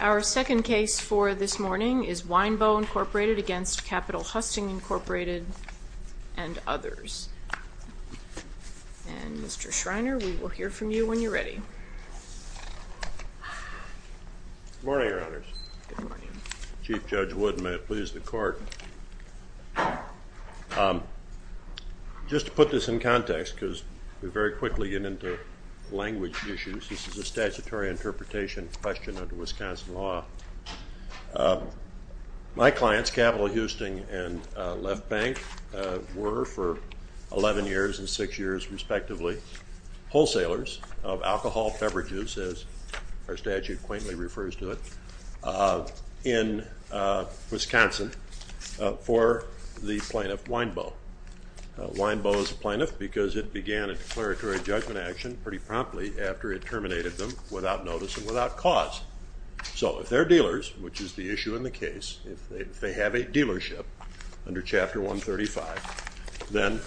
Our second case for this morning is Winebow, Inc. v. Capitol-Husting, Inc. and others. And, Mr. Schreiner, we will hear from you when you're ready. Good morning, Your Honors. Good morning. Chief Judge Wood, and may it please the Court. Just to put this in context, because we very quickly get into language issues, this is a statutory interpretation question under Wisconsin law. My clients, Capitol-Husting and Left Bank, were for 11 years and 6 years, respectively, wholesalers of alcohol, beverages, as our statute quaintly refers to it, in Wisconsin for the plaintiff Winebow. Winebow is a plaintiff because it began a declaratory judgment action pretty promptly after it terminated them without notice and without cause. So if they're dealers, which is the issue in the case, if they have a dealership under Chapter 135, then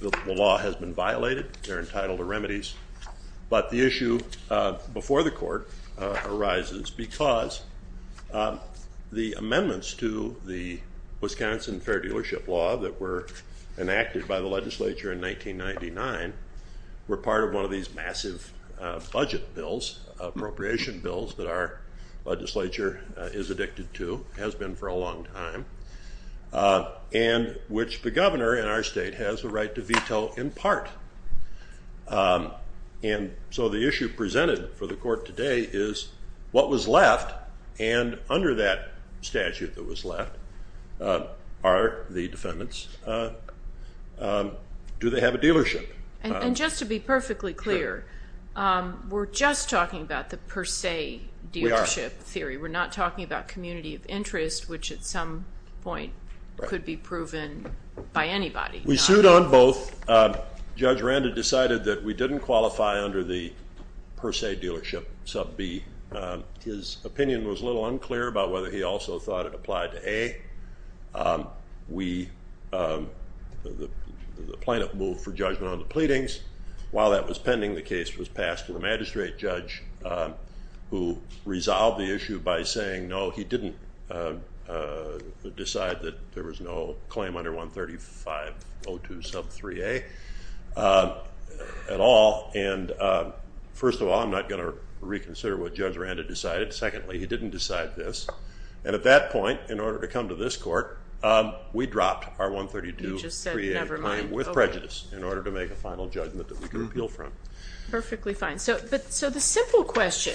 the law has been violated, they're entitled to remedies. But the issue before the Court arises because the amendments to the Wisconsin Fair Dealership Law that were enacted by the legislature in 1999 were part of one of these massive budget bills, appropriation bills, that our legislature is addicted to, has been for a long time, and which the governor in our state has the right to veto in part. And so the issue presented for the Court today is what was left, and under that statute that was left, are the defendants, do they have a dealership? And just to be perfectly clear, we're just talking about the per se dealership theory. We're not talking about community of interest, which at some point could be proven by anybody. We sued on both. Judge Rand had decided that we didn't qualify under the per se dealership sub B. His opinion was a little unclear about whether he also thought it applied to A. The plaintiff moved for judgment on the pleadings. While that was pending, the case was passed to the magistrate judge who resolved the issue by saying no, he didn't decide that there was no claim under 135.02 sub 3A at all. And first of all, I'm not going to reconsider what Judge Rand had decided. Secondly, he didn't decide this. And at that point, in order to come to this court, we dropped our 132 sub 3A claim with prejudice in order to make a final judgment that we could appeal from. Perfectly fine. So the simple question,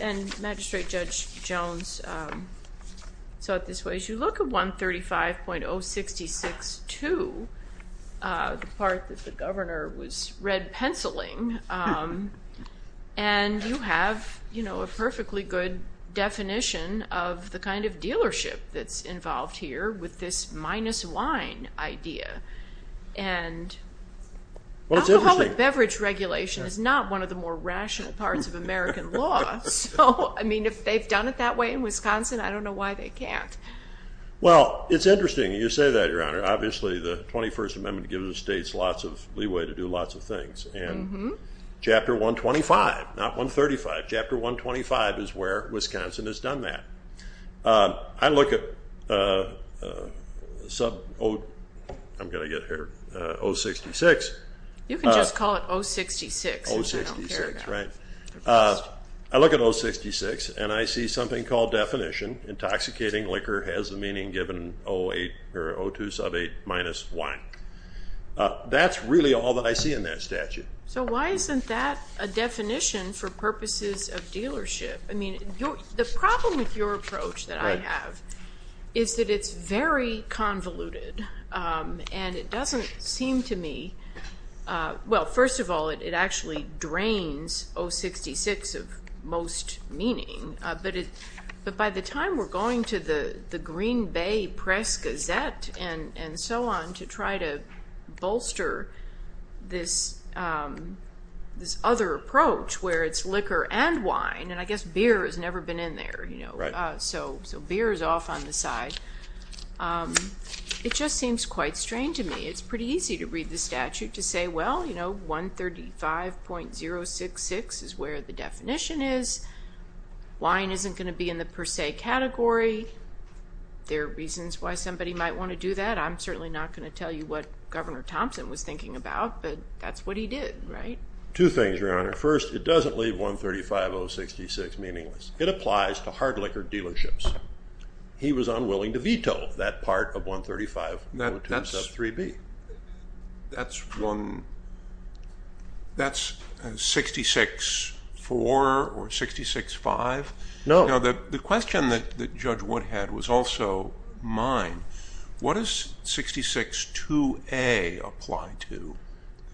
and Magistrate Judge Jones saw it this way. If you look at 135.066.2, the part that the governor was red penciling, and you have a perfectly good definition of the kind of dealership that's involved here with this minus wine idea. And alcoholic beverage regulation is not one of the more rational parts of American law. So, I mean, if they've done it that way in Wisconsin, I don't know why they can't. Well, it's interesting you say that, Your Honor. Obviously, the 21st Amendment gives the states lots of leeway to do lots of things. And Chapter 125, not 135, Chapter 125 is where Wisconsin has done that. I look at, I'm going to get here, 066. You can just call it 066. 066, right. I look at 066, and I see something called definition. Intoxicating liquor has the meaning given 08 or 02 sub 8 minus wine. That's really all that I see in that statute. So why isn't that a definition for purposes of dealership? I mean, the problem with your approach that I have is that it's very convoluted. And it doesn't seem to me, well, first of all, it actually drains 066 of most meaning. But by the time we're going to the Green Bay Press-Gazette and so on to try to bolster this other approach where it's liquor and wine, and I guess beer has never been in there, so beer is off on the side. It just seems quite strange to me. It's pretty easy to read the statute to say, well, 135.066 is where the definition is. Wine isn't going to be in the per se category. There are reasons why somebody might want to do that. I'm certainly not going to tell you what Governor Thompson was thinking about, but that's what he did, right? Two things, Your Honor. First, it doesn't leave 135.066 meaningless. It applies to hard liquor dealerships. He was unwilling to veto that part of 135.02 sub 3B. That's 66.4 or 66.5? No. The question that Judge Wood had was also mine. What does 66.2A apply to?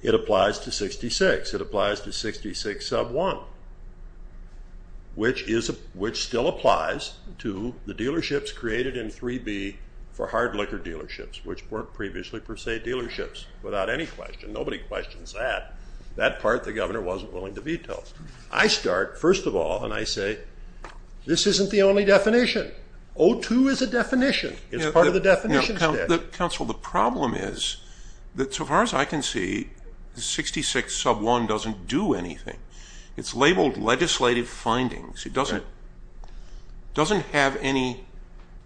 It applies to 66. It applies to 66.1, which still applies to the dealerships created in 3B for hard liquor dealerships, which weren't previously per se dealerships without any question. Nobody questions that. That part the governor wasn't willing to veto. I start, first of all, and I say this isn't the only definition. 02 is a definition. It's part of the definition statute. Counsel, the problem is that so far as I can see, 66 sub 1 doesn't do anything. It's labeled legislative findings. It doesn't have any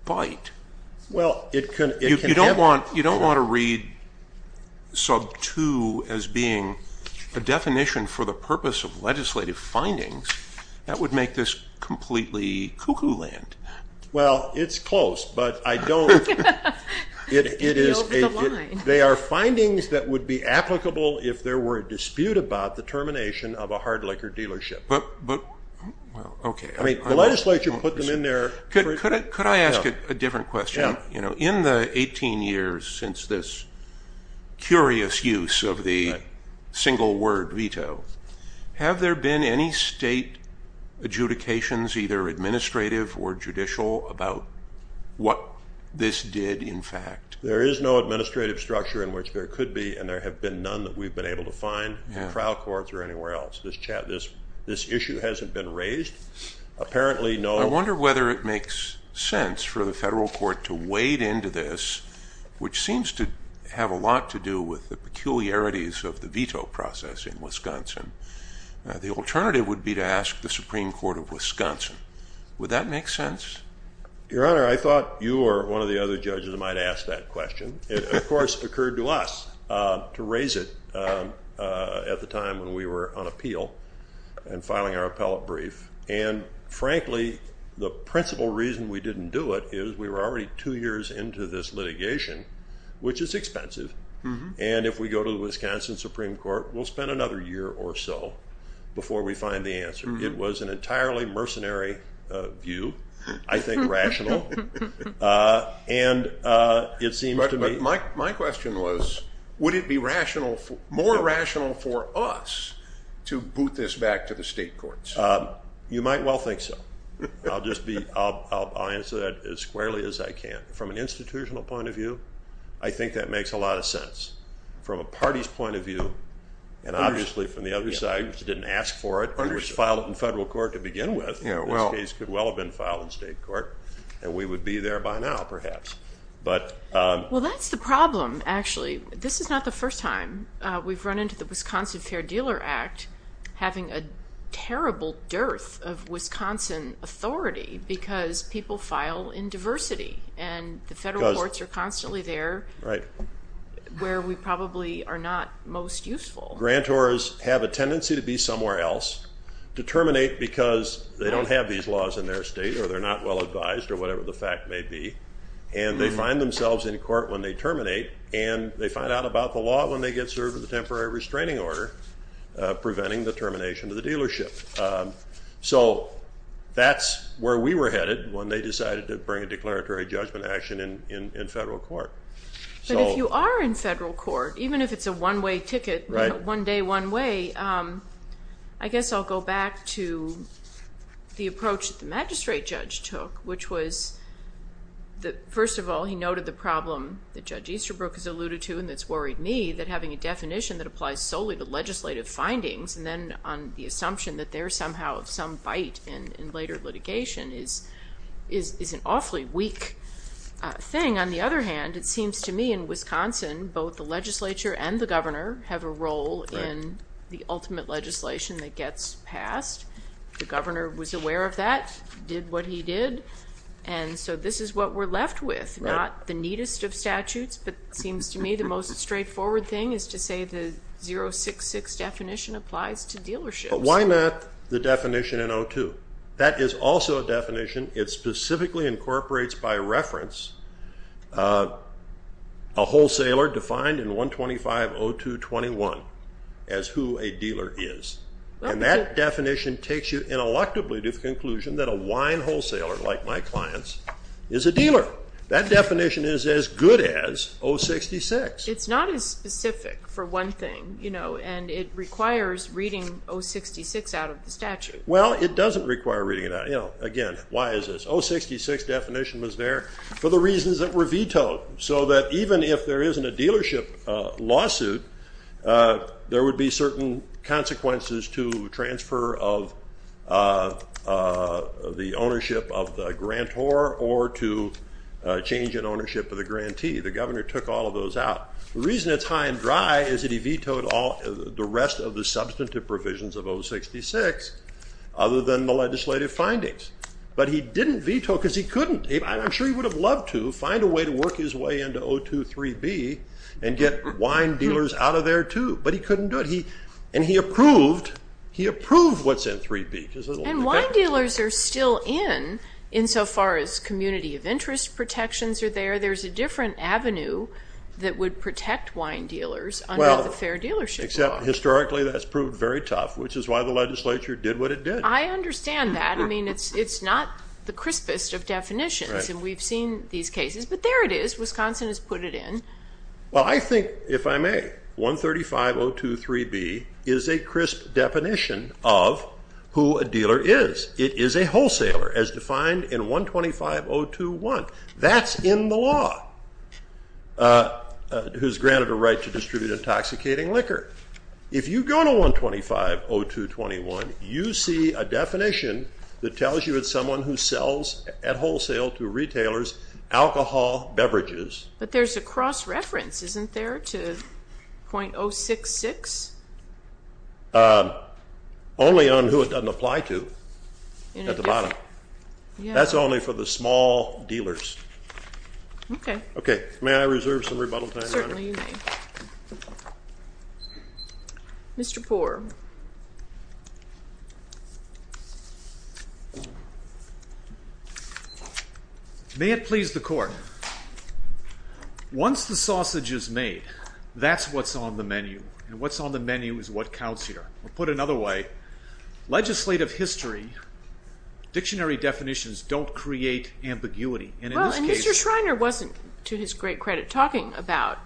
bite. You don't want to read sub 2 as being a definition for the purpose of legislative findings. That would make this completely cuckoo land. Well, it's close, but I don't. It is. They are findings that would be applicable if there were a dispute about the termination of a hard liquor dealership. The legislature put them in there. Could I ask a different question? In the 18 years since this curious use of the single word veto, have there been any state adjudications, either administrative or judicial, about what this did in fact? There is no administrative structure in which there could be, and there have been none that we've been able to find in trial courts or anywhere else. This issue hasn't been raised. Apparently, no. I wonder whether it makes sense for the federal court to wade into this, which seems to have a lot to do with the peculiarities of the veto process in Wisconsin. The alternative would be to ask the Supreme Court of Wisconsin. Would that make sense? Your Honor, I thought you or one of the other judges might ask that question. It, of course, occurred to us to raise it at the time when we were on appeal and filing our appellate brief. And, frankly, the principal reason we didn't do it is we were already two years into this litigation, which is expensive. And if we go to the Wisconsin Supreme Court, we'll spend another year or so before we find the answer. It was an entirely mercenary view, I think rational. But my question was, would it be more rational for us to boot this back to the state courts? You might well think so. I'll answer that as squarely as I can. From an institutional point of view, I think that makes a lot of sense. From a party's point of view, and obviously from the other side, which didn't ask for it, it was filed in federal court to begin with. This case could well have been filed in state court, and we would be there by now, perhaps. Well, that's the problem, actually. This is not the first time we've run into the Wisconsin Fair Dealer Act having a terrible dearth of Wisconsin authority because people file in diversity, and the federal courts are constantly there where we probably are not most useful. Grantors have a tendency to be somewhere else, to terminate because they don't have these laws in their state or they're not well advised or whatever the fact may be, and they find themselves in court when they terminate, and they find out about the law when they get served with a temporary restraining order, preventing the termination of the dealership. So that's where we were headed when they decided to bring a declaratory judgment action in federal court. But if you are in federal court, even if it's a one-way ticket, one day, one way, I guess I'll go back to the approach that the magistrate judge took, which was that, first of all, he noted the problem that Judge Easterbrook has alluded to and that's worried me, that having a definition that applies solely to legislative findings and then on the assumption that there's somehow some bite in later litigation is an awfully weak thing. On the other hand, it seems to me in Wisconsin, both the legislature and the governor have a role in the ultimate legislation that gets passed. The governor was aware of that, did what he did, and so this is what we're left with, not the neatest of statutes, but it seems to me the most straightforward thing is to say the 066 definition applies to dealerships. But why not the definition in 02? That is also a definition. It specifically incorporates by reference a wholesaler defined in 125.02.21 as who a dealer is. And that definition takes you ineluctably to the conclusion that a wine wholesaler, like my clients, is a dealer. That definition is as good as 066. It's not as specific, for one thing, and it requires reading 066 out of the statute. Well, it doesn't require reading it out. Again, why is this? 066 definition was there for the reasons that were vetoed, so that even if there isn't a dealership lawsuit, there would be certain consequences to transfer of the ownership of the grantor or to change in ownership of the grantee. The governor took all of those out. The reason it's high and dry is that he vetoed the rest of the substantive provisions of 066, other than the legislative findings. But he didn't veto because he couldn't. I'm sure he would have loved to find a way to work his way into 023B and get wine dealers out of there, too. But he couldn't do it. And he approved what's in 03B. And wine dealers are still in, insofar as community of interest protections are there. There's a different avenue that would protect wine dealers under the Fair Dealership Law. Except historically that's proved very tough, which is why the legislature did what it did. I understand that. I mean, it's not the crispest of definitions. And we've seen these cases. But there it is. Wisconsin has put it in. Well, I think, if I may, 135.023B is a crisp definition of who a dealer is. It is a wholesaler, as defined in 125.021. That's in the law, who's granted a right to distribute intoxicating liquor. If you go to 125.0221, you see a definition that tells you it's someone who sells at wholesale to retailers alcohol beverages. But there's a cross-reference, isn't there, to 0.066? Only on who it doesn't apply to at the bottom. That's only for the small dealers. Okay. May I reserve some rebuttal time, Your Honor? Certainly, you may. Mr. Poore. May it please the Court. Once the sausage is made, that's what's on the menu. And what's on the menu is what counts here. We'll put it another way. Legislative history, dictionary definitions don't create ambiguity. Well, and Mr. Schreiner wasn't, to his great credit, talking about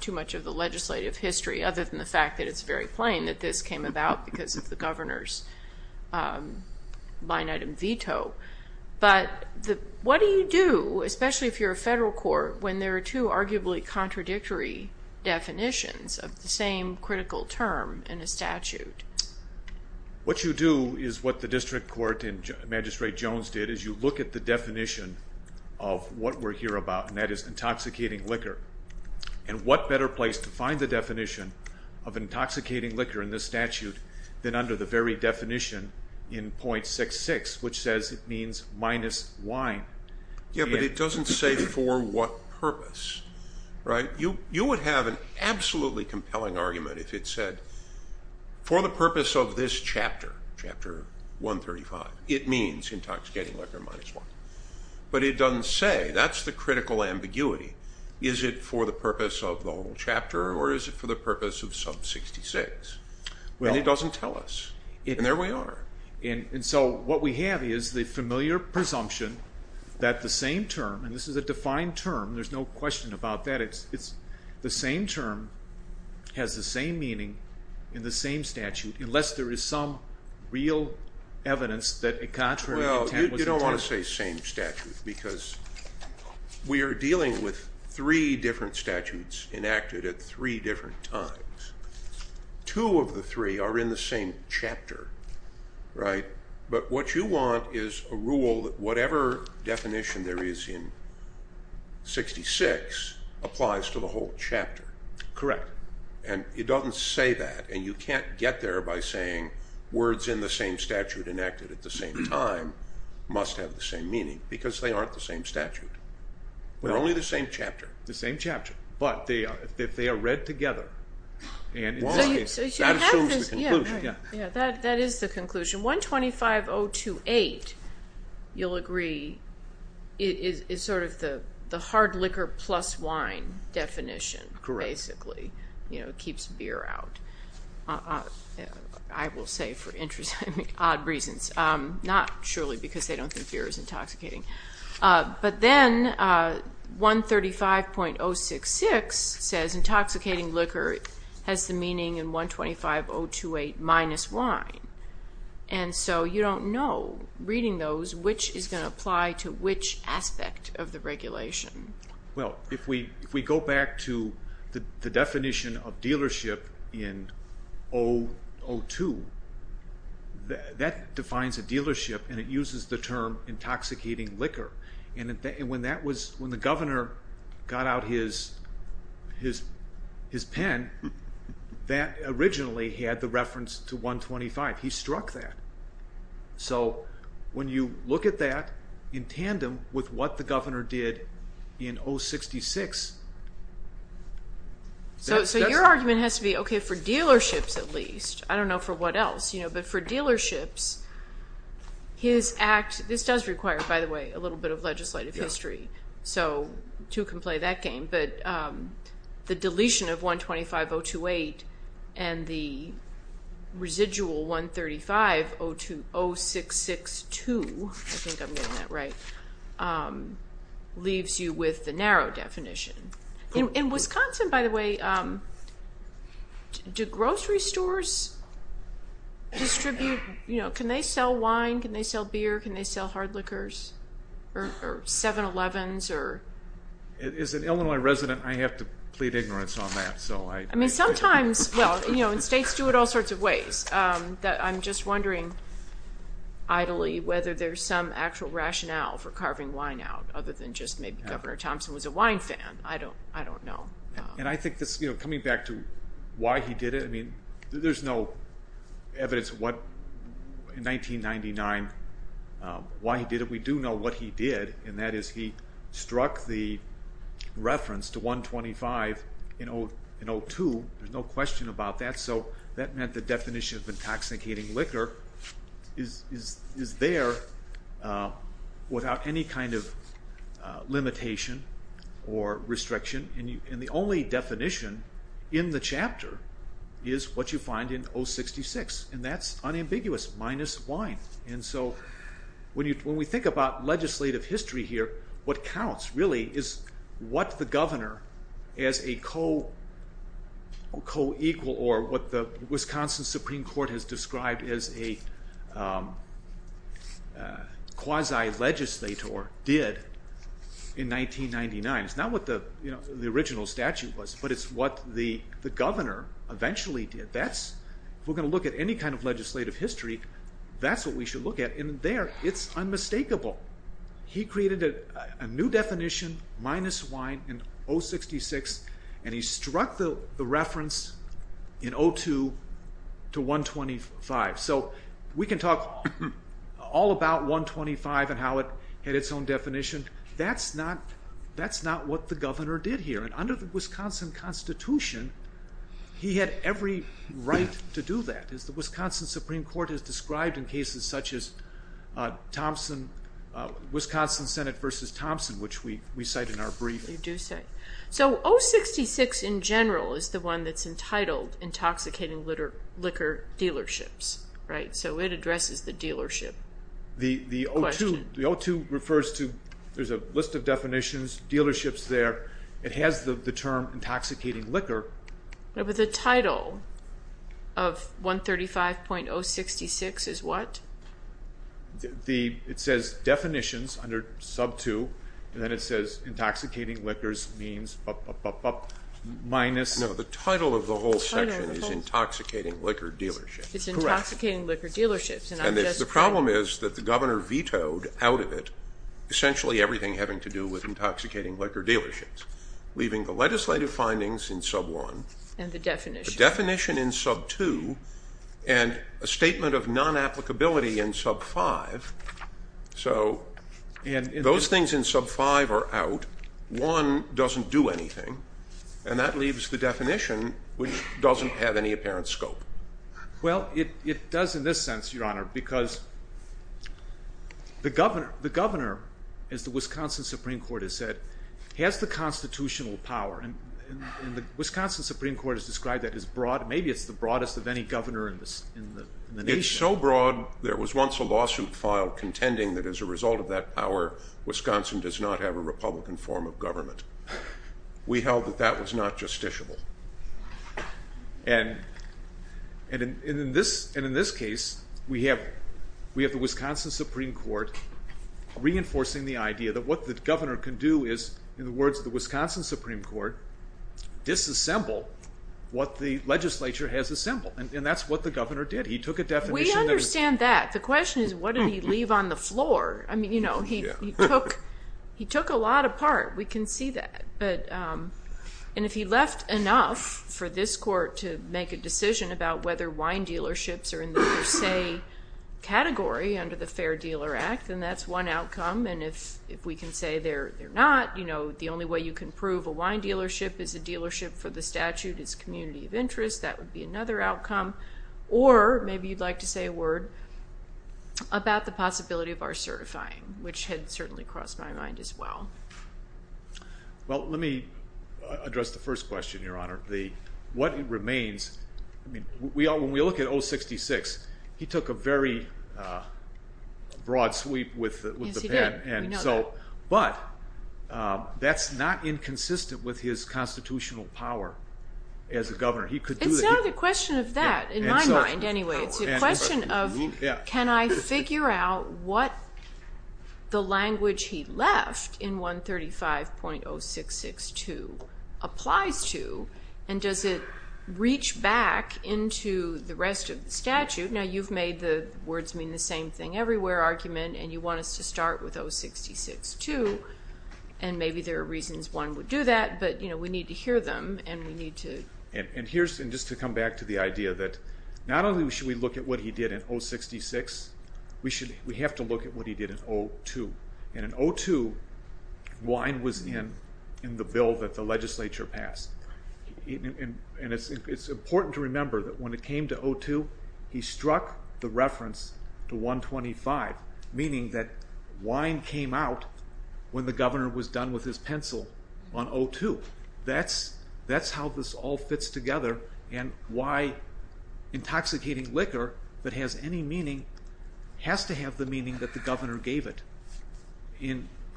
too much of the legislative history, other than the fact that it's very plain that this came about because of the governor's line-item veto. But what do you do, especially if you're a federal court, when there are two arguably contradictory definitions of the same critical term in a statute? What you do is what the District Court and Magistrate Jones did, is you look at the definition of what we're here about, and that is intoxicating liquor. And what better place to find the definition of intoxicating liquor in this statute than under the very definition in 0.66, which says it means minus wine? Yeah, but it doesn't say for what purpose, right? You would have an absolutely compelling argument if it said for the purpose of this chapter, chapter 135, it means intoxicating liquor minus wine. But it doesn't say. That's the critical ambiguity. Is it for the purpose of the whole chapter, or is it for the purpose of sub-66? And it doesn't tell us. And there we are. And so what we have is the familiar presumption that the same term, and this is a defined term, there's no question about that, the same term has the same meaning in the same statute unless there is some real evidence that a contrary attempt was attempted. Well, you don't want to say same statute because we are dealing with three different statutes enacted at three different times. Two of the three are in the same chapter, right? But what you want is a rule that whatever definition there is in 066 applies to the whole chapter. Correct. And it doesn't say that. And you can't get there by saying words in the same statute enacted at the same time must have the same meaning because they aren't the same statute. They're only the same chapter. The same chapter. But they are read together. And in this case, that assumes the conclusion. Yeah, that is the conclusion. 125.028, you'll agree, is sort of the hard liquor plus wine definition basically. Correct. It keeps beer out, I will say for odd reasons, not surely because they don't think beer is intoxicating. But then 135.066 says intoxicating liquor has the meaning in 125.028 minus wine. And so you don't know, reading those, which is going to apply to which aspect of the regulation. Well, if we go back to the definition of dealership in 002, that defines a dealership and it uses the term intoxicating liquor. And when the governor got out his pen, that originally had the reference to 125. He struck that. So when you look at that in tandem with what the governor did in 066. So your argument has to be, okay, for dealerships at least, I don't know for what else, but for dealerships, his act, this does require, by the way, a little bit of legislative history. So two can play that game. But the deletion of 125.028 and the residual 135.066.2, I think I'm getting that right, leaves you with the narrow definition. In Wisconsin, by the way, do grocery stores distribute, can they sell wine, can they sell beer, can they sell hard liquors, or 7-Elevens? As an Illinois resident, I have to plead ignorance on that. I mean, sometimes, well, you know, and states do it all sorts of ways. I'm just wondering idly whether there's some actual rationale for carving wine out other than just maybe Governor Thompson was a wine fan. I don't know. And I think this, you know, coming back to why he did it, I mean, there's no evidence in 1999 why he did it. We do know what he did, and that is he struck the reference to 125 in 02. There's no question about that. So that meant the definition of intoxicating liquor is there without any kind of limitation or restriction, and the only definition in the chapter is what you find in 066, and that's unambiguous, minus wine. And so when we think about legislative history here, what counts really is what the governor as a co-equal or what the Wisconsin Supreme Court has described as a quasi-legislator did in 1999. It's not what the original statute was, but it's what the governor eventually did. If we're going to look at any kind of legislative history, that's what we should look at, and there it's unmistakable. He created a new definition, minus wine, in 066, and he struck the reference in 02 to 125. So we can talk all about 125 and how it had its own definition. That's not what the governor did here, and under the Wisconsin Constitution, he had every right to do that, as the Wisconsin Supreme Court has described in cases such as Wisconsin Senate v. Thompson, which we cite in our brief. So 066 in general is the one that's entitled intoxicating liquor dealerships, so it addresses the dealership question. The 02 refers to a list of definitions, dealerships there. It has the term intoxicating liquor. But the title of 135.066 is what? It says definitions under sub 2, and then it says intoxicating liquors means minus. No, the title of the whole section is intoxicating liquor dealerships. It's intoxicating liquor dealerships. And the problem is that the governor vetoed out of it essentially everything having to do with intoxicating liquor dealerships, leaving the legislative findings in sub 1. And the definition. The definition in sub 2 and a statement of non-applicability in sub 5. So those things in sub 5 are out. 1 doesn't do anything, and that leaves the definition, which doesn't have any apparent scope. Well, it does in this sense, Your Honor, because the governor, as the Wisconsin Supreme Court has said, has the constitutional power, and the Wisconsin Supreme Court has described that as broad. Maybe it's the broadest of any governor in the nation. It's so broad there was once a lawsuit filed contending that as a result of that power, Wisconsin does not have a republican form of government. We held that that was not justiciable. And in this case, we have the Wisconsin Supreme Court reinforcing the idea that what the governor can do is, in the words of the Wisconsin Supreme Court, disassemble what the legislature has assembled. And that's what the governor did. He took a definition. We understand that. The question is what did he leave on the floor? I mean, you know, he took a lot apart. We can see that. And if he left enough for this court to make a decision about whether wine dealerships are in the per se category under the Fair Dealer Act, then that's one outcome. And if we can say they're not, you know, the only way you can prove a wine dealership is a dealership for the statute is community of interest, that would be another outcome. Or maybe you'd like to say a word about the possibility of our certifying, which had certainly crossed my mind as well. Well, let me address the first question, Your Honor. What remains, I mean, when we look at 066, he took a very broad sweep with the pen. Yes, he did. We know that. But that's not inconsistent with his constitutional power as a governor. It's not a question of that, in my mind anyway. It's a question of can I figure out what the language he left in 135.0662 applies to, and does it reach back into the rest of the statute? Now, you've made the words mean the same thing everywhere argument, and you want us to start with 066 too, and maybe there are reasons one would do that, but, you know, we need to hear them and we need to. And just to come back to the idea that not only should we look at what he did in 066, we have to look at what he did in 02. And in 02, wine was in the bill that the legislature passed. And it's important to remember that when it came to 02, he struck the reference to 125, meaning that wine came out when the governor was done with his pencil on 02. That's how this all fits together, and why intoxicating liquor that has any meaning has to have the meaning that the governor gave it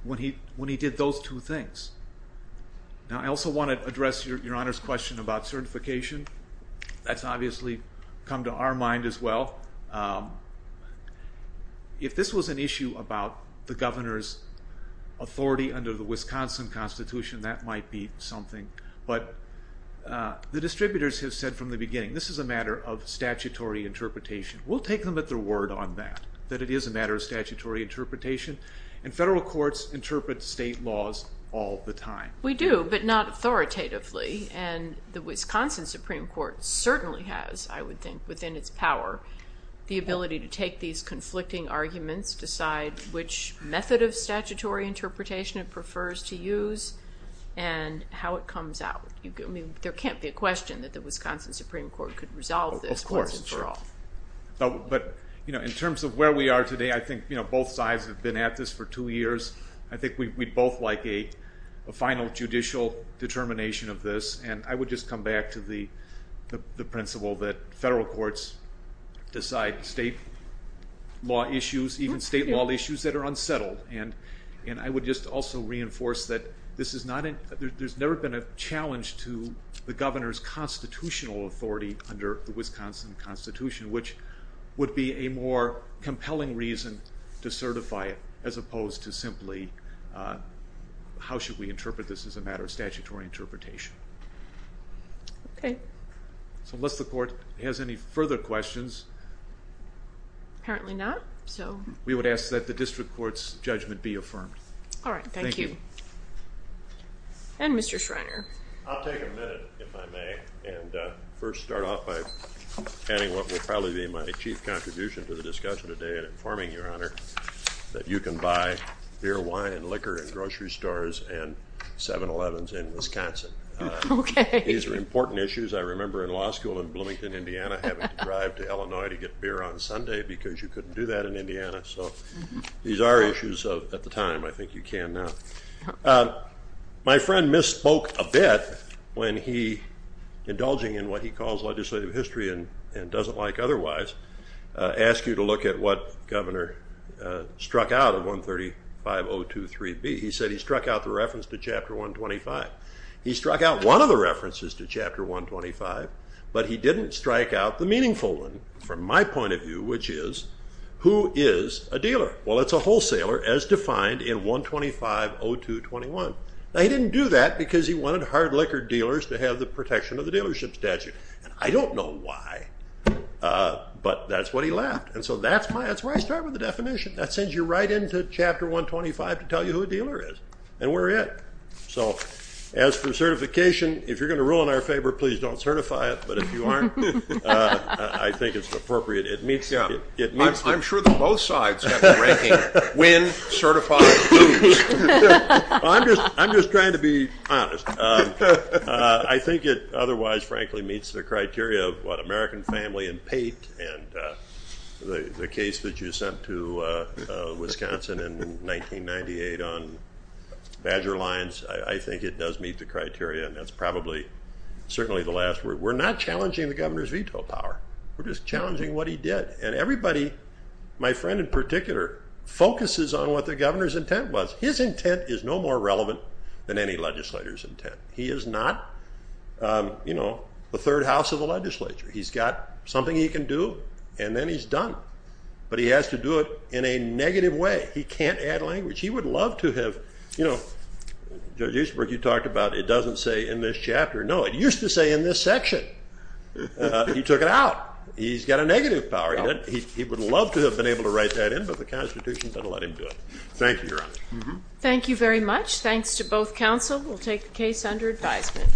when he did those two things. Now, I also want to address Your Honor's question about certification. That's obviously come to our mind as well. If this was an issue about the governor's authority under the Wisconsin Constitution, that might be something. But the distributors have said from the beginning, this is a matter of statutory interpretation. We'll take them at their word on that, that it is a matter of statutory interpretation, and federal courts interpret state laws all the time. We do, but not authoritatively. And the Wisconsin Supreme Court certainly has, I would think, within its power, the ability to take these conflicting arguments, decide which method of statutory interpretation it prefers to use, and how it comes out. I mean, there can't be a question that the Wisconsin Supreme Court could resolve this once and for all. But in terms of where we are today, I think both sides have been at this for two years. I think we'd both like a final judicial determination of this. And I would just come back to the principle that federal courts decide state law issues, even state law issues that are unsettled. And I would just also reinforce that there's never been a challenge to the governor's constitutional authority under the Wisconsin Constitution, which would be a more compelling reason to certify it, as opposed to simply how should we interpret this as a matter of statutory interpretation. Okay. So unless the court has any further questions. Apparently not. We would ask that the district court's judgment be affirmed. All right, thank you. And Mr. Schreiner. I'll take a minute, if I may, and first start off by adding what will probably be my chief contribution to the discussion today in informing Your Honor that you can buy beer, wine, liquor in grocery stores and 7-Elevens in Wisconsin. Okay. These are important issues. I remember in law school in Bloomington, Indiana, having to drive to Illinois to get beer on Sunday because you couldn't do that in Indiana. So these are issues at the time. I think you can now. My friend misspoke a bit when he, indulging in what he calls legislative history and doesn't like otherwise, asked you to look at what Governor struck out of 135.023B. He said he struck out the reference to Chapter 125. He struck out one of the references to Chapter 125, but he didn't strike out the meaningful one from my point of view, which is who is a dealer? Well, it's a wholesaler as defined in 125.0221. Now, he didn't do that because he wanted hard liquor dealers to have the protection of the dealership statute, and I don't know why, but that's what he left. So that's where I start with the definition. That sends you right into Chapter 125 to tell you who a dealer is and where we're at. So as for certification, if you're going to rule in our favor, please don't certify it, but if you aren't, I think it's appropriate. I'm sure that both sides have a ranking, win, certify, lose. I'm just trying to be honest. I think it otherwise, frankly, meets the criteria of what American Family and Pate and the case that you sent to Wisconsin in 1998 on Badger Lines. I think it does meet the criteria, and that's probably certainly the last. We're not challenging the governor's veto power. We're just challenging what he did, and everybody, my friend in particular, focuses on what the governor's intent was. His intent is no more relevant than any legislator's intent. He is not the third house of the legislature. He's got something he can do, and then he's done, but he has to do it in a negative way. He can't add language. He would love to have, you know, Judge Eastbrook, you talked about, No, it used to say in this section. He took it out. He's got a negative power. He would love to have been able to write that in, but the Constitution doesn't let him do it. Thank you, Your Honor. Thank you very much. Thanks to both counsel. We'll take the case under advisement.